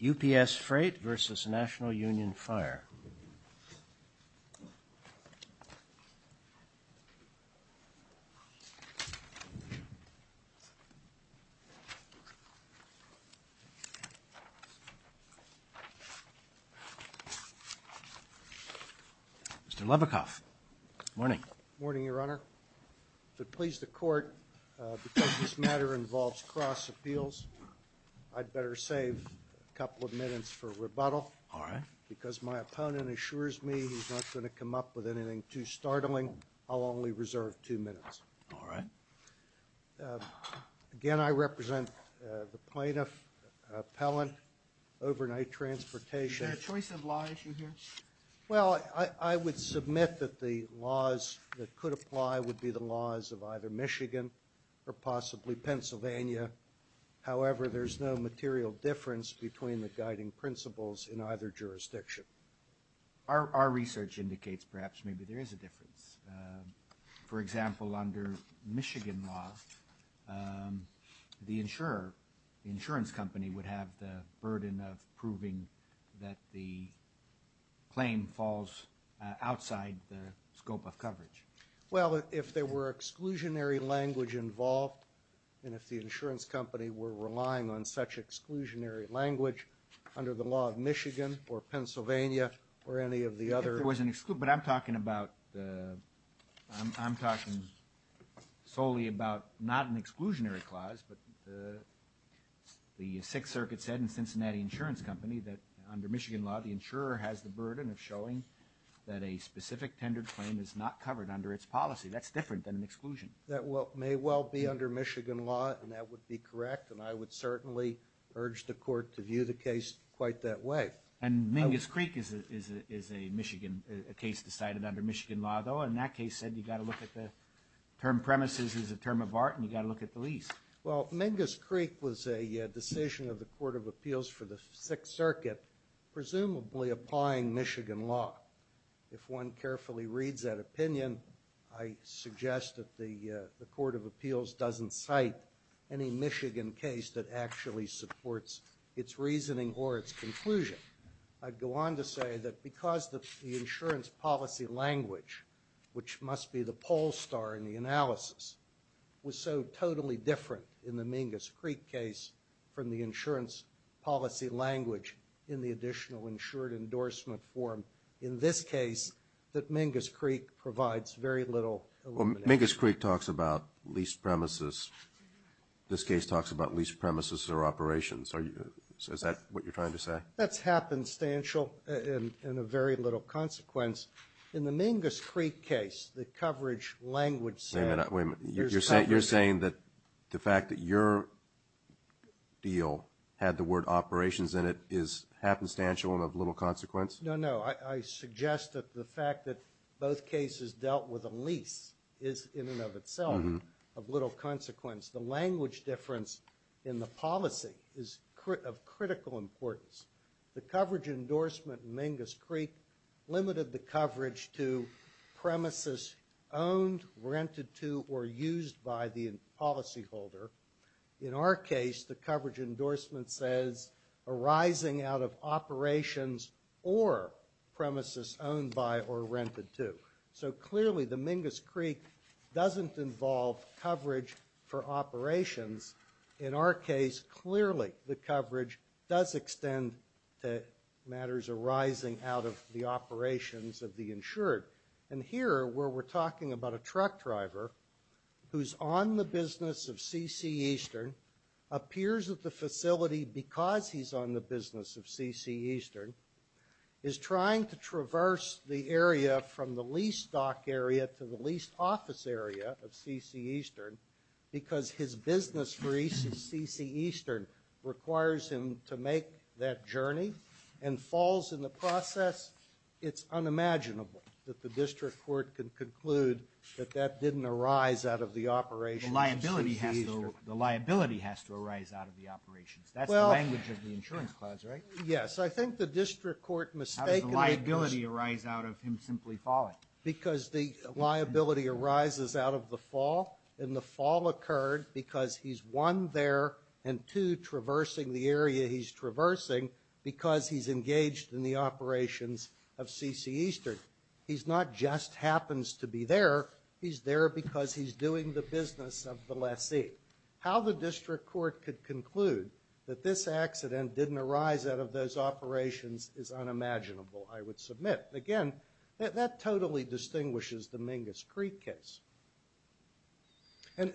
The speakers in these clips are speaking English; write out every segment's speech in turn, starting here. UPSFreight v. National Union Fire Mr. Lebekoff, morning. Morning, Your Honor. If it pleases the Court, because this matter involves cross appeals, I'd better save a couple of minutes for rebuttal. All right. Because my opponent assures me he's not going to come up with anything too startling, I'll only reserve two minutes. All right. Again, I represent the plaintiff, appellant, overnight transportation. Is there a choice of law issue here? Well, I would submit that the laws that could apply would be the laws of either Michigan or possibly Pennsylvania. However, there's no material difference between the guiding principles in either jurisdiction. Our research indicates perhaps maybe there is a difference. For example, under Michigan law, the insurer, the insurance company, would have the burden of proving that the claim falls outside the scope of coverage. Well, if there were exclusionary language involved, and if the insurance company were relying on such exclusionary language under the law of Michigan or Pennsylvania or any of the other But I'm talking solely about not an exclusionary clause, but the Sixth Circuit said in Cincinnati Insurance Company that under Michigan law, the insurer has the burden of showing that a specific tendered claim is not covered under its policy. That's different than an exclusion. That may well be under Michigan law, and that would be correct, and I would certainly urge the Court to view the case quite that way. And Mingus Creek is a Michigan case decided under Michigan law, though, and that case said you've got to look at the term premises as a term of art, and you've got to look at the lease. Well, Mingus Creek was a decision of the Court of Appeals for the Sixth Circuit, presumably applying Michigan law. If one carefully reads that opinion, I suggest that the Court of Appeals doesn't cite any Michigan case that actually supports its reasoning or its conclusion. I'd go on to say that because the insurance policy language, which must be the poll star in the analysis, was so totally different in the Mingus Creek case from the insurance policy language in the additional insured endorsement form in this case, that Mingus Creek provides very little elimination. Well, Mingus Creek talks about lease premises. This case talks about lease premises or operations. Is that what you're trying to say? That's happenstantial and of very little consequence. In the Mingus Creek case, the coverage language said there's coverage. Wait a minute. You're saying that the fact that your deal had the word operations in it is happenstantial and of little consequence? No, no. I suggest that the fact that both cases dealt with a lease is in and of itself of little consequence. The language difference in the policy is of critical importance. The coverage endorsement in Mingus Creek limited the coverage to premises owned, rented to, or used by the policyholder. In our case, the coverage endorsement says arising out of operations or premises owned by or rented to. So clearly the Mingus Creek doesn't involve coverage for operations. In our case, clearly the coverage does extend to matters arising out of the operations of the insured. And here where we're talking about a truck driver who's on the business of C.C. Eastern, appears at the facility because he's on the business of C.C. Eastern, is trying to traverse the area from the lease dock area to the lease office area of C.C. Eastern because his business for C.C. Eastern requires him to make that journey and falls in the process. It's unimaginable that the district court can conclude that that didn't arise out of the operations of C.C. Eastern. The liability has to arise out of the operations. That's the language of the insurance clause, right? Yes. I think the district court mistakenly— How does the liability arise out of him simply falling? Because the liability arises out of the fall, and the fall occurred because he's, one, there, and two, traversing the area he's traversing because he's engaged in the operations of C.C. Eastern. He's not just happens to be there. He's there because he's doing the business of the lessee. How the district court could conclude that this accident didn't arise out of those operations is unimaginable, I would submit. Again, that totally distinguishes the Mingus Creek case. And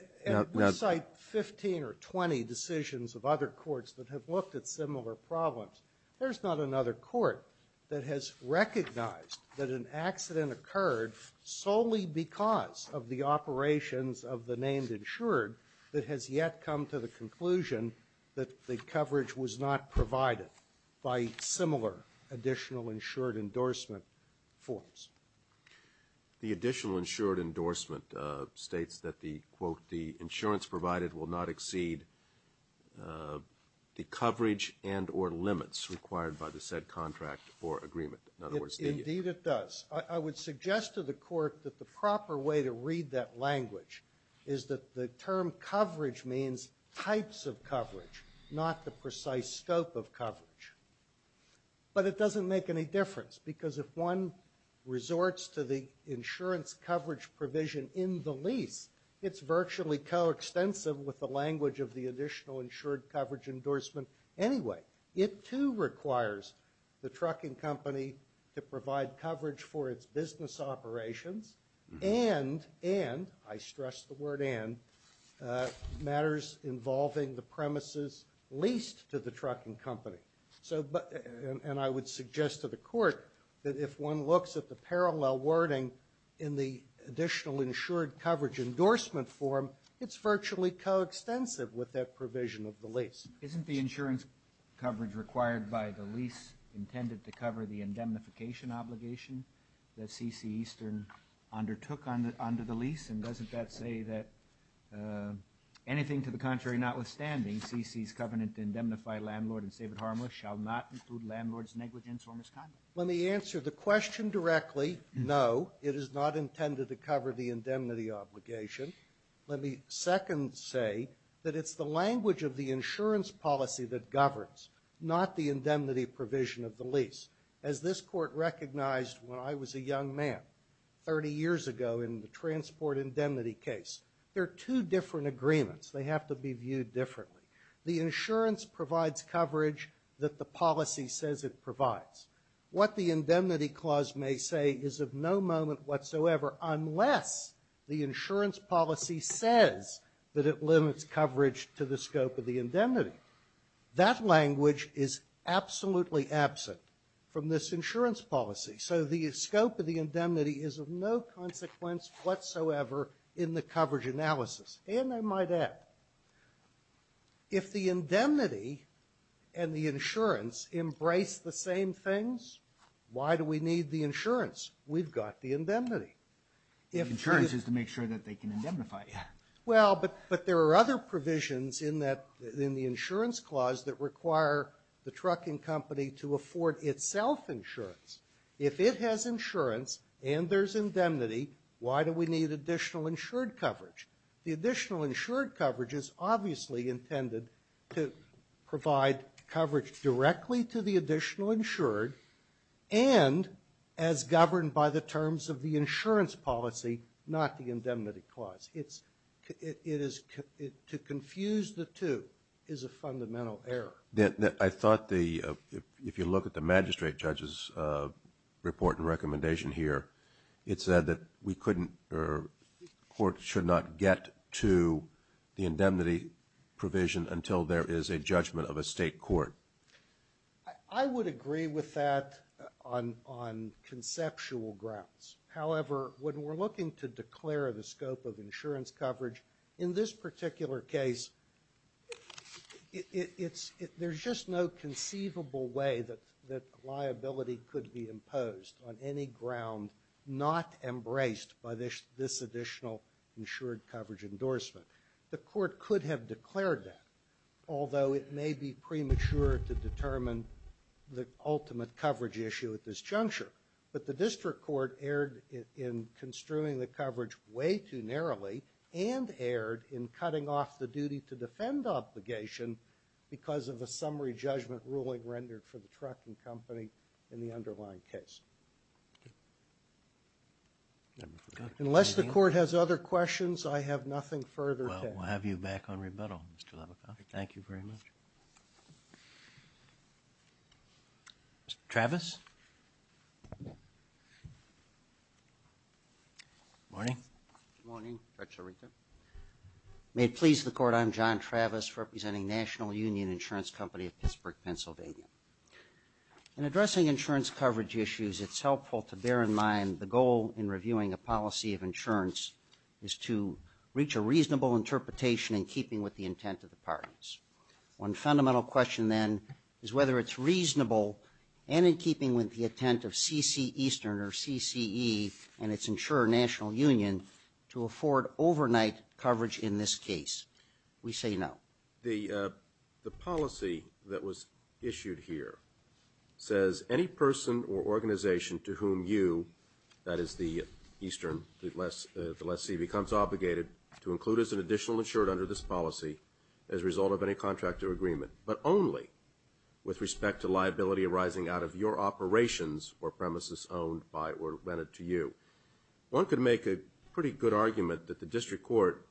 we cite 15 or 20 decisions of other courts that have looked at similar problems. There's not another court that has recognized that an accident occurred solely because of the operations of the named insured that has yet come to the conclusion that the coverage was not provided by similar additional insured endorsement forms. The additional insured endorsement states that the, quote, the insurance provided will not exceed the coverage and or limits required by the said contract or agreement. In other words— Indeed it does. I would suggest to the court that the proper way to read that language is that the term coverage means types of coverage, not the precise scope of coverage. But it doesn't make any difference because if one resorts to the insurance coverage provision in the lease, it's virtually coextensive with the language of the additional insured coverage endorsement anyway. It, too, requires the trucking company to provide coverage for its business operations and—I stress the word and—matters involving the premises leased to the trucking company. And I would suggest to the court that if one looks at the parallel wording in the additional insured coverage endorsement form, it's virtually coextensive with that provision of the lease. Isn't the insurance coverage required by the lease intended to cover the indemnification obligation that C.C. Eastern undertook under the lease? And doesn't that say that anything to the contrary notwithstanding, C.C.'s covenant to indemnify landlord and save it harmless shall not include landlord's negligence or misconduct? Let me answer the question directly. No, it is not intended to cover the indemnity obligation. Let me second say that it's the language of the insurance policy that governs, not the indemnity provision of the lease. As this court recognized when I was a young man 30 years ago in the transport indemnity case, there are two different agreements. They have to be viewed differently. The insurance provides coverage that the policy says it provides. What the indemnity clause may say is of no moment whatsoever unless the insurance policy says that it limits coverage to the scope of the indemnity. That language is absolutely absent from this insurance policy. So the scope of the indemnity is of no consequence whatsoever in the coverage analysis. And I might add, if the indemnity and the insurance embrace the same things, why do we need the insurance? We've got the indemnity. Insurance is to make sure that they can indemnify you. Well, but there are other provisions in the insurance clause that require the trucking company to afford itself insurance. If it has insurance and there's indemnity, why do we need additional insured coverage? The additional insured coverage is obviously intended to provide coverage directly to the additional insured and as governed by the terms of the insurance policy, not the indemnity clause. To confuse the two is a fundamental error. I thought if you look at the magistrate judge's report and recommendation here, it said that we couldn't or courts should not get to the indemnity provision until there is a judgment of a state court. I would agree with that on conceptual grounds. However, when we're looking to declare the scope of insurance coverage, in this particular case, there's just no conceivable way that liability could be imposed on any ground not embraced by this additional insured coverage endorsement. The court could have declared that, although it may be premature to determine the ultimate coverage issue at this juncture. But the district court erred in construing the coverage way too narrowly and erred in cutting off the duty to defend obligation because of a summary judgment ruling rendered for the trucking company in the underlying case. Unless the court has other questions, I have nothing further to add. Well, we'll have you back on rebuttal, Mr. Lavakoff. Thank you very much. Thank you very much. Mr. Travis? Good morning. Good morning. May it please the court, I'm John Travis representing National Union Insurance Company of Pittsburgh, Pennsylvania. In addressing insurance coverage issues, it's helpful to bear in mind the goal in reviewing a policy of insurance is to reach a reasonable interpretation in keeping with the intent of the parties. One fundamental question, then, is whether it's reasonable and in keeping with the intent of CCEastern or CCE and its insurer, National Union, to afford overnight coverage in this case. We say no. The policy that was issued here says, any person or organization to whom you, that is the eastern, the lessee, becomes obligated to include as an additional insured under this policy as a result of any contract or agreement, but only with respect to liability arising out of your operations or premises owned by or rented to you. One could make a pretty good argument that the district court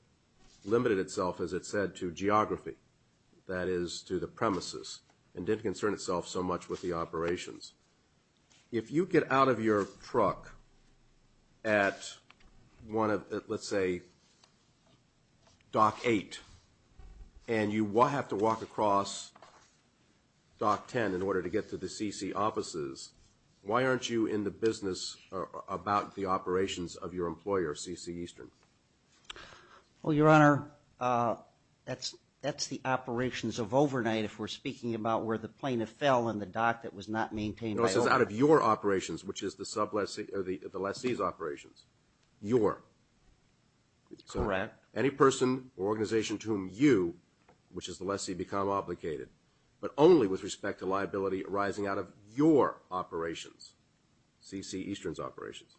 limited itself, as it said, to geography, that is to the premises, and didn't concern itself so much with the operations. If you get out of your truck at one of, let's say, Dock 8, and you have to walk across Dock 10 in order to get to the CC offices, why aren't you in the business about the operations of your employer, CCEastern? Well, Your Honor, that's the operations of overnight, if we're speaking about where the plaintiff fell in the dock that was not maintained by overnight. No, it says out of your operations, which is the lessee's operations. Your. Correct. Any person or organization to whom you, which is the lessee, become obligated, but only with respect to liability arising out of your operations, CCEastern's operations.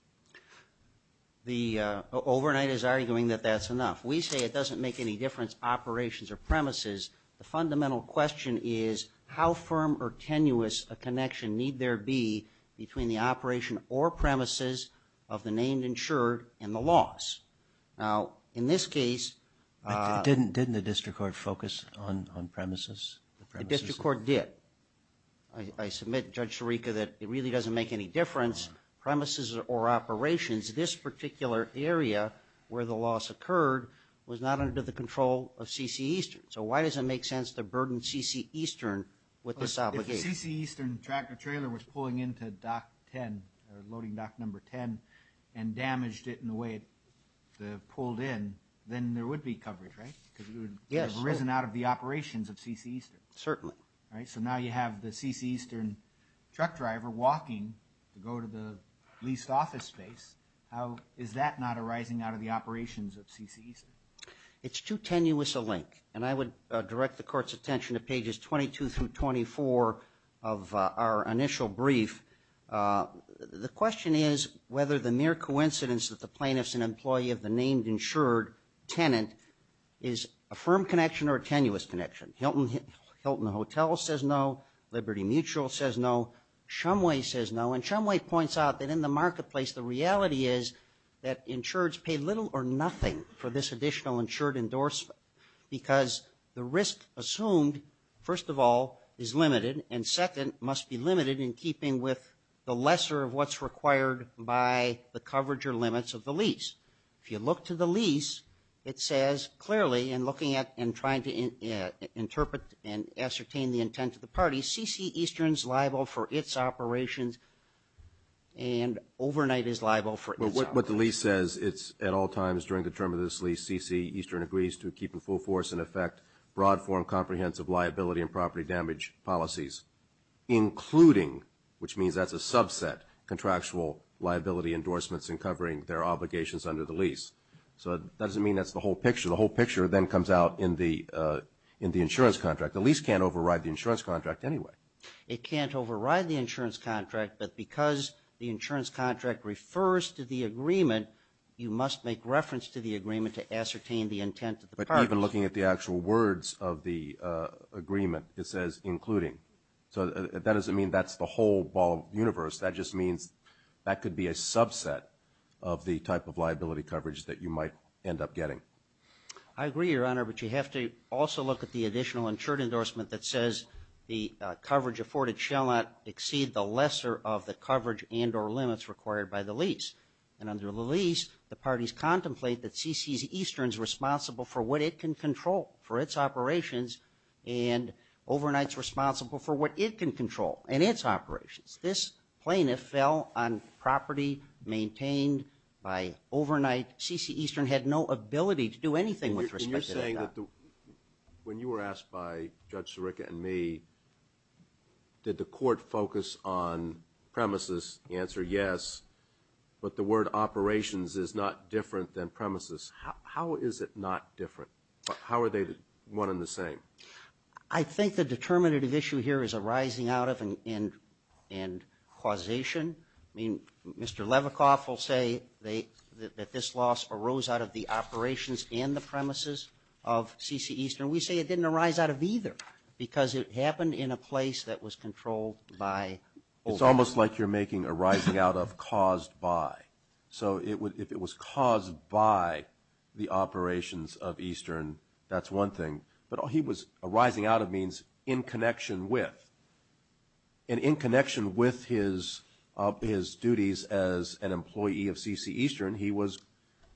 The overnight is arguing that that's enough. We say it doesn't make any difference, operations or premises. The fundamental question is how firm or tenuous a connection need there be between the operation or premises of the named insured and the loss. Now, in this case. Didn't the district court focus on premises? The district court did. I submit, Judge Sirica, that it really doesn't make any difference, premises or operations. This particular area where the loss occurred was not under the control of CCEastern. So why does it make sense to burden CCEastern with this obligation? If CCEastern tractor trailer was pulling into dock 10 or loading dock number 10 and damaged it in the way it pulled in, then there would be coverage, right? Because it would have arisen out of the operations of CCEastern. Certainly. All right, so now you have the CCEastern truck driver walking to go to the leased office space. How is that not arising out of the operations of CCEastern? It's too tenuous a link. And I would direct the court's attention to pages 22 through 24 of our initial brief. The question is whether the mere coincidence that the plaintiff's an employee of the named insured tenant is a firm connection or a tenuous connection. Hilton Hotel says no. Liberty Mutual says no. Shumway says no. And when Shumway points out that in the marketplace the reality is that insureds pay little or nothing for this additional insured endorsement. Because the risk assumed, first of all, is limited. And second, must be limited in keeping with the lesser of what's required by the coverage or limits of the lease. If you look to the lease, it says clearly in looking at and trying to interpret and ascertain the intent of the party, that CCEastern's liable for its operations and Overnight is liable for its operations. But what the lease says, it's at all times during the term of this lease, CCEastern agrees to keep in full force and effect broad form comprehensive liability and property damage policies. Including, which means that's a subset, contractual liability endorsements in covering their obligations under the lease. So that doesn't mean that's the whole picture. The whole picture then comes out in the insurance contract. The lease can't override the insurance contract anyway. It can't override the insurance contract, but because the insurance contract refers to the agreement, you must make reference to the agreement to ascertain the intent of the party. But even looking at the actual words of the agreement, it says including. So that doesn't mean that's the whole ball universe. That just means that could be a subset of the type of liability coverage that you might end up getting. I agree, Your Honor, but you have to also look at the additional insured endorsement that says the coverage afforded shall not exceed the lesser of the coverage and or limits required by the lease. And under the lease, the parties contemplate that CCEastern's responsible for what it can control for its operations and Overnight's responsible for what it can control in its operations. This plaintiff fell on property maintained by Overnight. CCEastern had no ability to do anything with respect to that. And you're saying that when you were asked by Judge Sirica and me, did the court focus on premises? The answer, yes. But the word operations is not different than premises. How is it not different? How are they one and the same? I think the determinative issue here is a rising out of and causation. I mean, Mr. Levikoff will say that this loss arose out of the operations and the premises of CCEastern. We say it didn't arise out of either because it happened in a place that was controlled by Overnight. It's almost like you're making a rising out of caused by. So if it was caused by the operations of Eastern, that's one thing. But he was arising out of means in connection with. And in connection with his duties as an employee of CCEastern, he was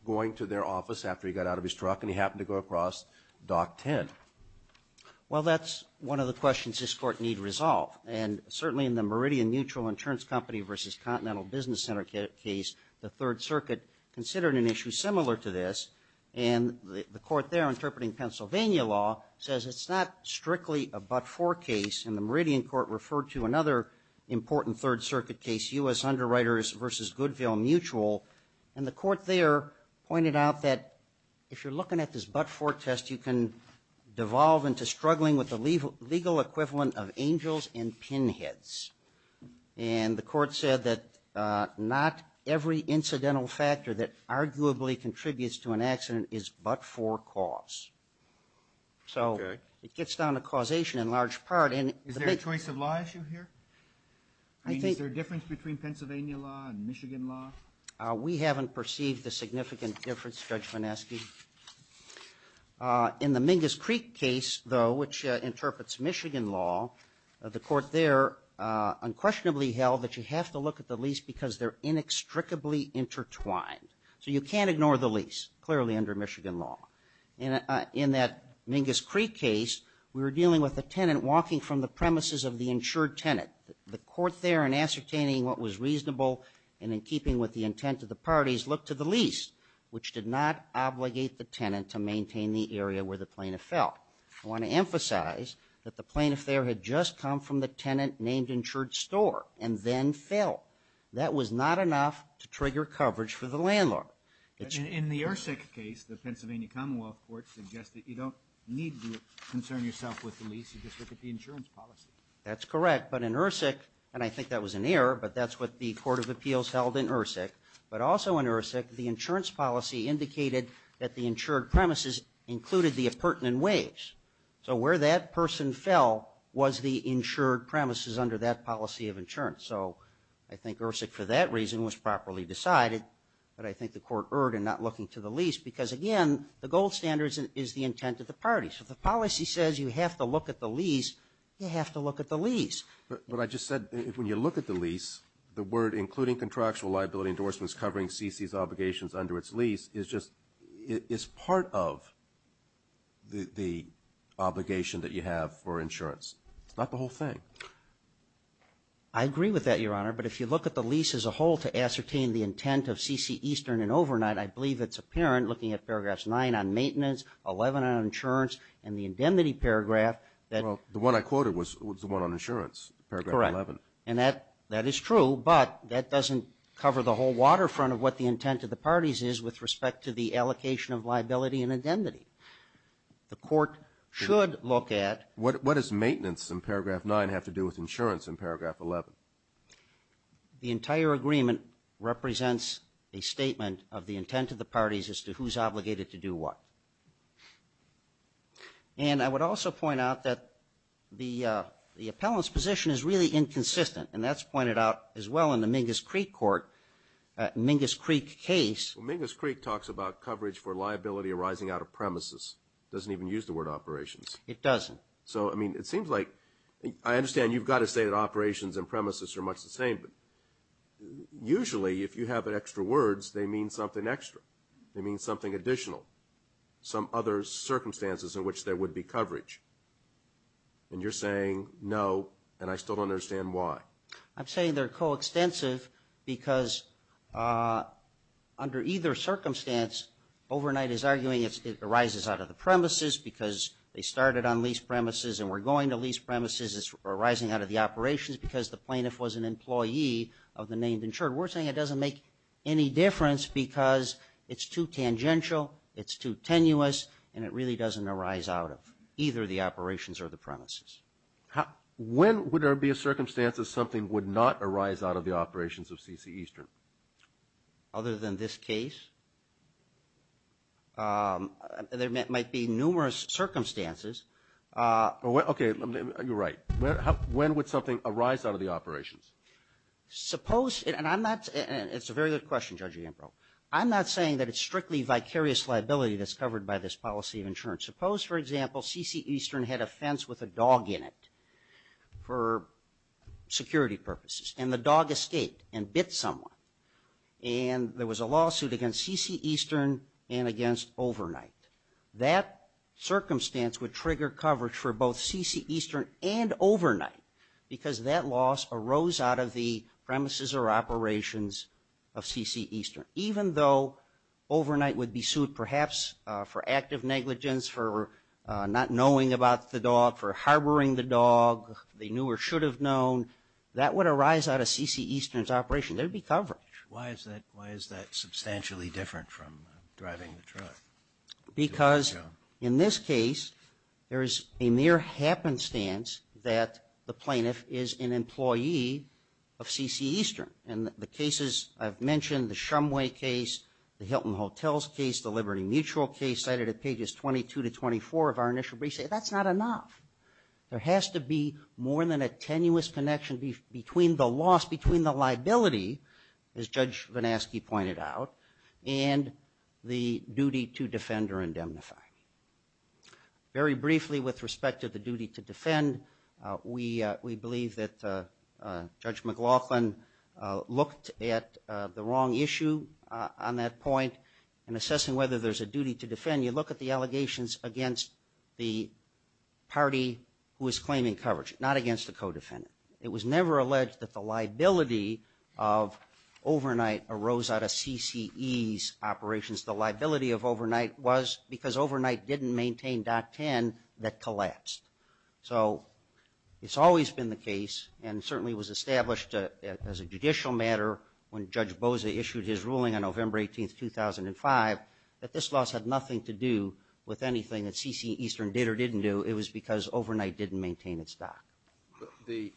going to their office after he got out of his truck, and he happened to go across Dock 10. Well, that's one of the questions this Court need resolve. And certainly in the Meridian Neutral Insurance Company v. Continental Business Center case, the Third Circuit considered an issue similar to this. And the Court there interpreting Pennsylvania law says it's not strictly a but-for case. And the Meridian Court referred to another important Third Circuit case, U.S. Underwriters v. Goodville Mutual. And the Court there pointed out that if you're looking at this but-for test, you can devolve into struggling with the legal equivalent of angels and pinheads. And the Court said that not every incidental factor that arguably contributes to an accident is but-for cause. So it gets down to causation in large part. Is there a choice of law issue here? I mean, is there a difference between Pennsylvania law and Michigan law? We haven't perceived a significant difference, Judge Vinesky. In the Mingus Creek case, though, which interprets Michigan law, the Court there unquestionably held that you have to look at the lease because they're inextricably intertwined. So you can't ignore the lease, clearly under Michigan law. In that Mingus Creek case, we were dealing with a tenant walking from the premises of the insured tenant. The Court there, in ascertaining what was reasonable and in keeping with the intent of the parties, looked to the lease, which did not obligate the tenant to maintain the area where the plaintiff fell. I want to emphasize that the plaintiff there had just come from the tenant named insured store and then fell. That was not enough to trigger coverage for the landlord. In the Ersic case, the Pennsylvania Commonwealth Court suggested you don't need to concern yourself with the lease. You just look at the insurance policy. That's correct. But in Ersic, and I think that was an error, but that's what the Court of Appeals held in Ersic. But also in Ersic, the insurance policy indicated that the insured premises included the appurtenant wage. So where that person fell was the insured premises under that policy of insurance. So I think Ersic, for that reason, was properly decided. But I think the Court erred in not looking to the lease because, again, the gold standard is the intent of the parties. If the policy says you have to look at the lease, you have to look at the lease. But I just said when you look at the lease, the word including contractual liability endorsements covering CC's obligations under its lease is just part of the obligation that you have for insurance. It's not the whole thing. I agree with that, Your Honor. But if you look at the lease as a whole to ascertain the intent of CC Eastern and Overnight, I believe it's apparent looking at paragraphs 9 on maintenance, 11 on insurance, and the indemnity paragraph. Well, the one I quoted was the one on insurance, paragraph 11. Correct. And that is true, but that doesn't cover the whole waterfront of what the intent of the parties is with respect to the allocation of liability and indemnity. The Court should look at. What does maintenance in paragraph 9 have to do with insurance in paragraph 11? The entire agreement represents a statement of the intent of the parties as to who's obligated to do what. And I would also point out that the appellant's position is really inconsistent, and that's pointed out as well in the Mingus Creek case. Mingus Creek talks about coverage for liability arising out of premises. It doesn't even use the word operations. It doesn't. So, I mean, it seems like I understand you've got to say that operations and premises are much the same, but usually if you have extra words, they mean something extra. They mean something additional. Some other circumstances in which there would be coverage. And you're saying no, and I still don't understand why. I'm saying they're coextensive because under either circumstance, Overnight is arguing it arises out of the premises because they started on lease premises and were going to lease premises. It's arising out of the operations because the plaintiff was an employee of the named insured. We're saying it doesn't make any difference because it's too tangential, it's too tenuous, and it really doesn't arise out of either the operations or the premises. When would there be a circumstance that something would not arise out of the operations of C.C. Eastern? Other than this case? There might be numerous circumstances. Okay, you're right. When would something arise out of the operations? Suppose, and it's a very good question, Judge Ambrose, I'm not saying that it's strictly vicarious liability that's covered by this policy of insurance. Suppose, for example, C.C. Eastern had a fence with a dog in it for security purposes and the dog escaped and bit someone, and there was a lawsuit against C.C. Eastern and against Overnight. That circumstance would trigger coverage for both C.C. Eastern and Overnight because that loss arose out of the premises or operations of C.C. Eastern. Even though Overnight would be sued perhaps for active negligence, for not knowing about the dog, for harboring the dog, they knew or should have known, that would arise out of C.C. Eastern's operation. There would be coverage. Why is that substantially different from driving the truck? Because in this case, there is a mere happenstance that the plaintiff is an employee of C.C. Eastern. And the cases I've mentioned, the Shumway case, the Hilton Hotels case, the Liberty Mutual case, cited at pages 22 to 24 of our initial brief, say that's not enough. There has to be more than a tenuous connection between the loss, between the liability, as Judge Vinasky pointed out, and the duty to defend or indemnify. Very briefly with respect to the duty to defend, we believe that Judge McLaughlin looked at the wrong issue on that point in assessing whether there's a duty to defend. You look at the allegations against the party who is claiming coverage, not against the co-defendant. It was never alleged that the liability of Overnight arose out of C.C.E.'s operations. The liability of Overnight was because Overnight didn't maintain Dock 10 that collapsed. So it's always been the case, and certainly was established as a judicial matter when Judge Boza issued his ruling on November 18, 2005, that this loss had nothing to do with anything that C.C. Eastern did or didn't do. It was because Overnight didn't maintain its dock. The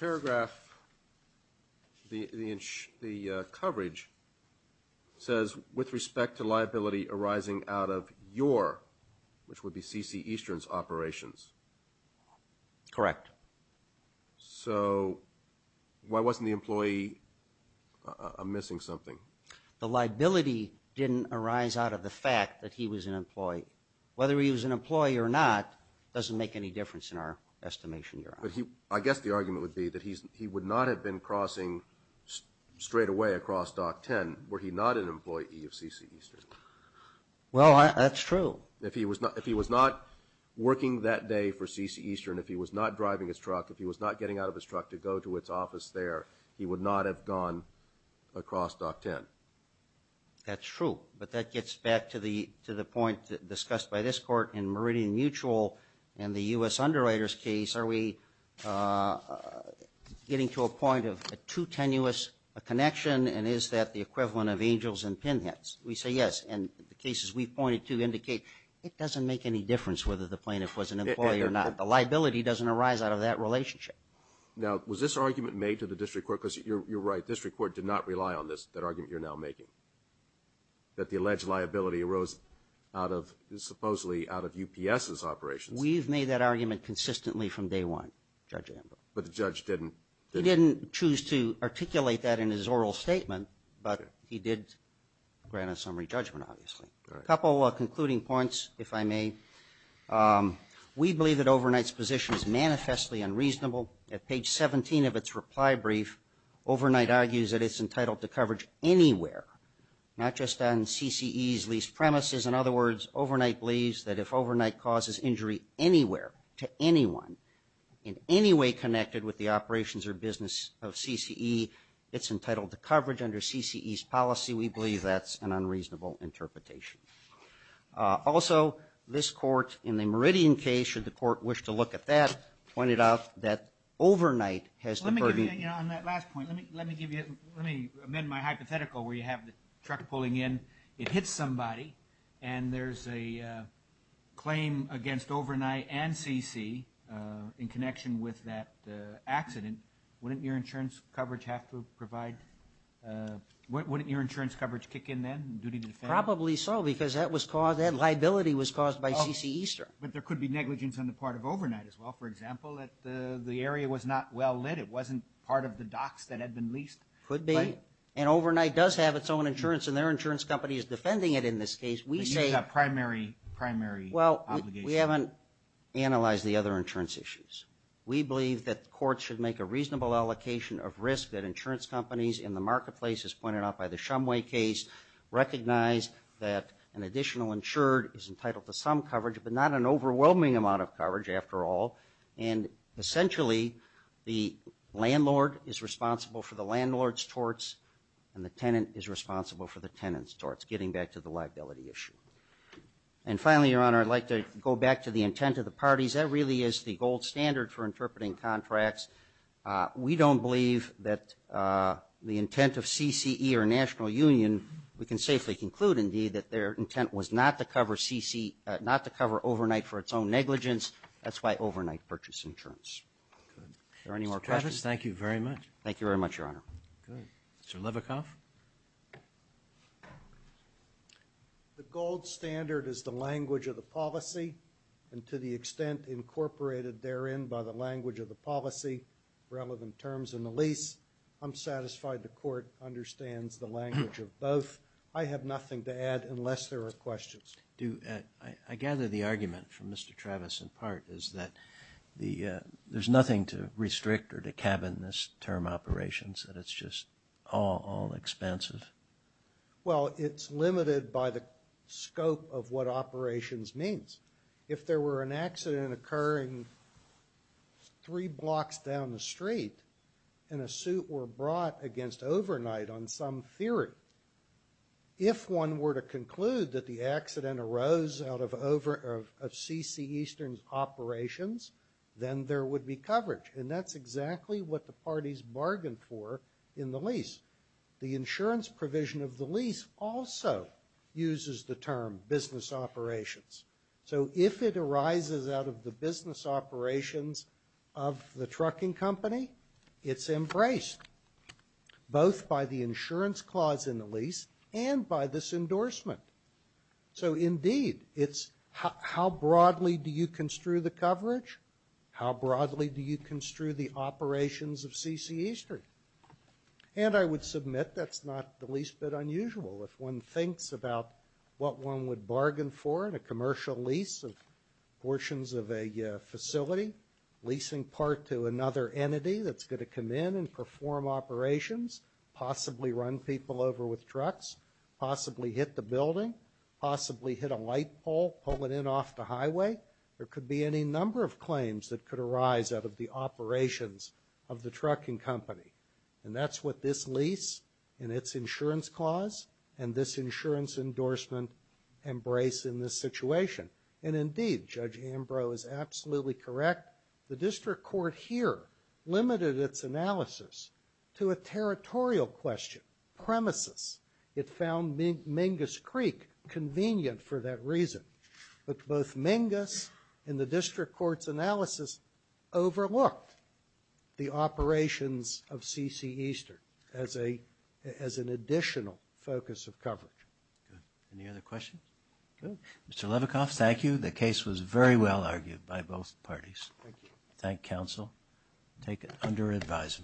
paragraph, the coverage, says, with respect to liability arising out of your, which would be C.C. Eastern's, operations. Correct. So why wasn't the employee missing something? The liability didn't arise out of the fact that he was an employee. Whether he was an employee or not doesn't make any difference in our estimation, Your Honor. I guess the argument would be that he would not have been crossing straightaway across Dock 10 were he not an employee of C.C. Eastern. Well, that's true. If he was not working that day for C.C. Eastern, if he was not driving his truck, if he was not getting out of his truck to go to its office there, he would not have gone across Dock 10. That's true, but that gets back to the point discussed by this Court. In Meridian Mutual and the U.S. Underwriters case, are we getting to a point of too tenuous a connection, and is that the equivalent of angels in pinheads? We say yes, and the cases we've pointed to indicate it doesn't make any difference whether the plaintiff was an employee or not. The liability doesn't arise out of that relationship. Now, was this argument made to the district court? Because you're right, district court did not rely on this, that argument you're now making, that the alleged liability arose supposedly out of UPS's operations. We've made that argument consistently from day one, Judge Amber. But the judge didn't? He didn't choose to articulate that in his oral statement, but he did grant a summary judgment, obviously. A couple of concluding points, if I may. We believe that Overnight's position is manifestly unreasonable. At page 17 of its reply brief, Overnight argues that it's entitled to coverage anywhere, not just on CCE's leased premises. In other words, Overnight believes that if Overnight causes injury anywhere to anyone in any way connected with the operations or business of CCE, it's entitled to coverage under CCE's policy. We believe that's an unreasonable interpretation. Also, this court in the Meridian case, should the court wish to look at that, pointed out that Overnight has the burden. Let me amend my hypothetical where you have the truck pulling in, it hits somebody, and there's a claim against Overnight and CCE in connection with that accident. Wouldn't your insurance coverage kick in then, duty to defend? Probably so, because that liability was caused by CCE. But there could be negligence on the part of Overnight as well. For example, if the area was not well lit, it wasn't part of the docks that had been leased. Could be. And Overnight does have its own insurance, and their insurance company is defending it in this case. We say that primary obligation. We haven't analyzed the other insurance issues. We believe that courts should make a reasonable allocation of risk that insurance companies in the marketplace, as pointed out by the Shumway case, recognize that an additional insured is entitled to some coverage, but not an overwhelming amount of coverage after all. And essentially, the landlord is responsible for the landlord's torts, and the tenant is responsible for the tenant's torts, getting back to the liability issue. And finally, Your Honor, I'd like to go back to the intent of the parties. That really is the gold standard for interpreting contracts. We don't believe that the intent of CCE or National Union, we can safely conclude, indeed, that their intent was not to cover CCE, not to cover Overnight for its own negligence. That's why Overnight purchased insurance. Are there any more questions? Mr. Travis, thank you very much. Thank you very much, Your Honor. Good. Mr. Levikoff? The gold standard is the language of the policy, and to the extent incorporated therein by the language of the policy, relevant terms in the lease. I'm satisfied the Court understands the language of both. I have nothing to add unless there are questions. I gather the argument from Mr. Travis, in part, is that there's nothing to restrict or to cabin this term operations, that it's just all expensive. Well, it's limited by the scope of what operations means. If there were an accident occurring three blocks down the street and a suit were brought against Overnight on some theory, if one were to conclude that the accident arose out of CCE's operations, then there would be coverage, and that's exactly what the parties bargained for in the lease. The insurance provision of the lease also uses the term business operations. So if it arises out of the business operations of the trucking company, it's embraced both by the insurance clause in the lease and by this endorsement. So, indeed, it's how broadly do you construe the coverage, how broadly do you construe the operations of CCE Street. And I would submit that's not the least bit unusual. If one thinks about what one would bargain for in a commercial lease of portions of a facility, leasing part to another entity that's going to come in and perform operations, possibly run people over with trucks, possibly hit the building, possibly hit a light pole, pull it in off the highway, there could be any number of claims that could arise out of the operations of the trucking company. And that's what this lease and its insurance clause and this insurance endorsement embrace in this situation. And, indeed, Judge Ambrose is absolutely correct. The district court here limited its analysis to a territorial question, premises. It found Mingus Creek convenient for that reason. But both Mingus and the district court's analysis overlooked the operations of CCE Street as an additional focus of coverage. Good. Any other questions? Good. Mr. Levikoff, thank you. The case was very well argued by both parties. Thank you. Thank counsel. Take it under advisement.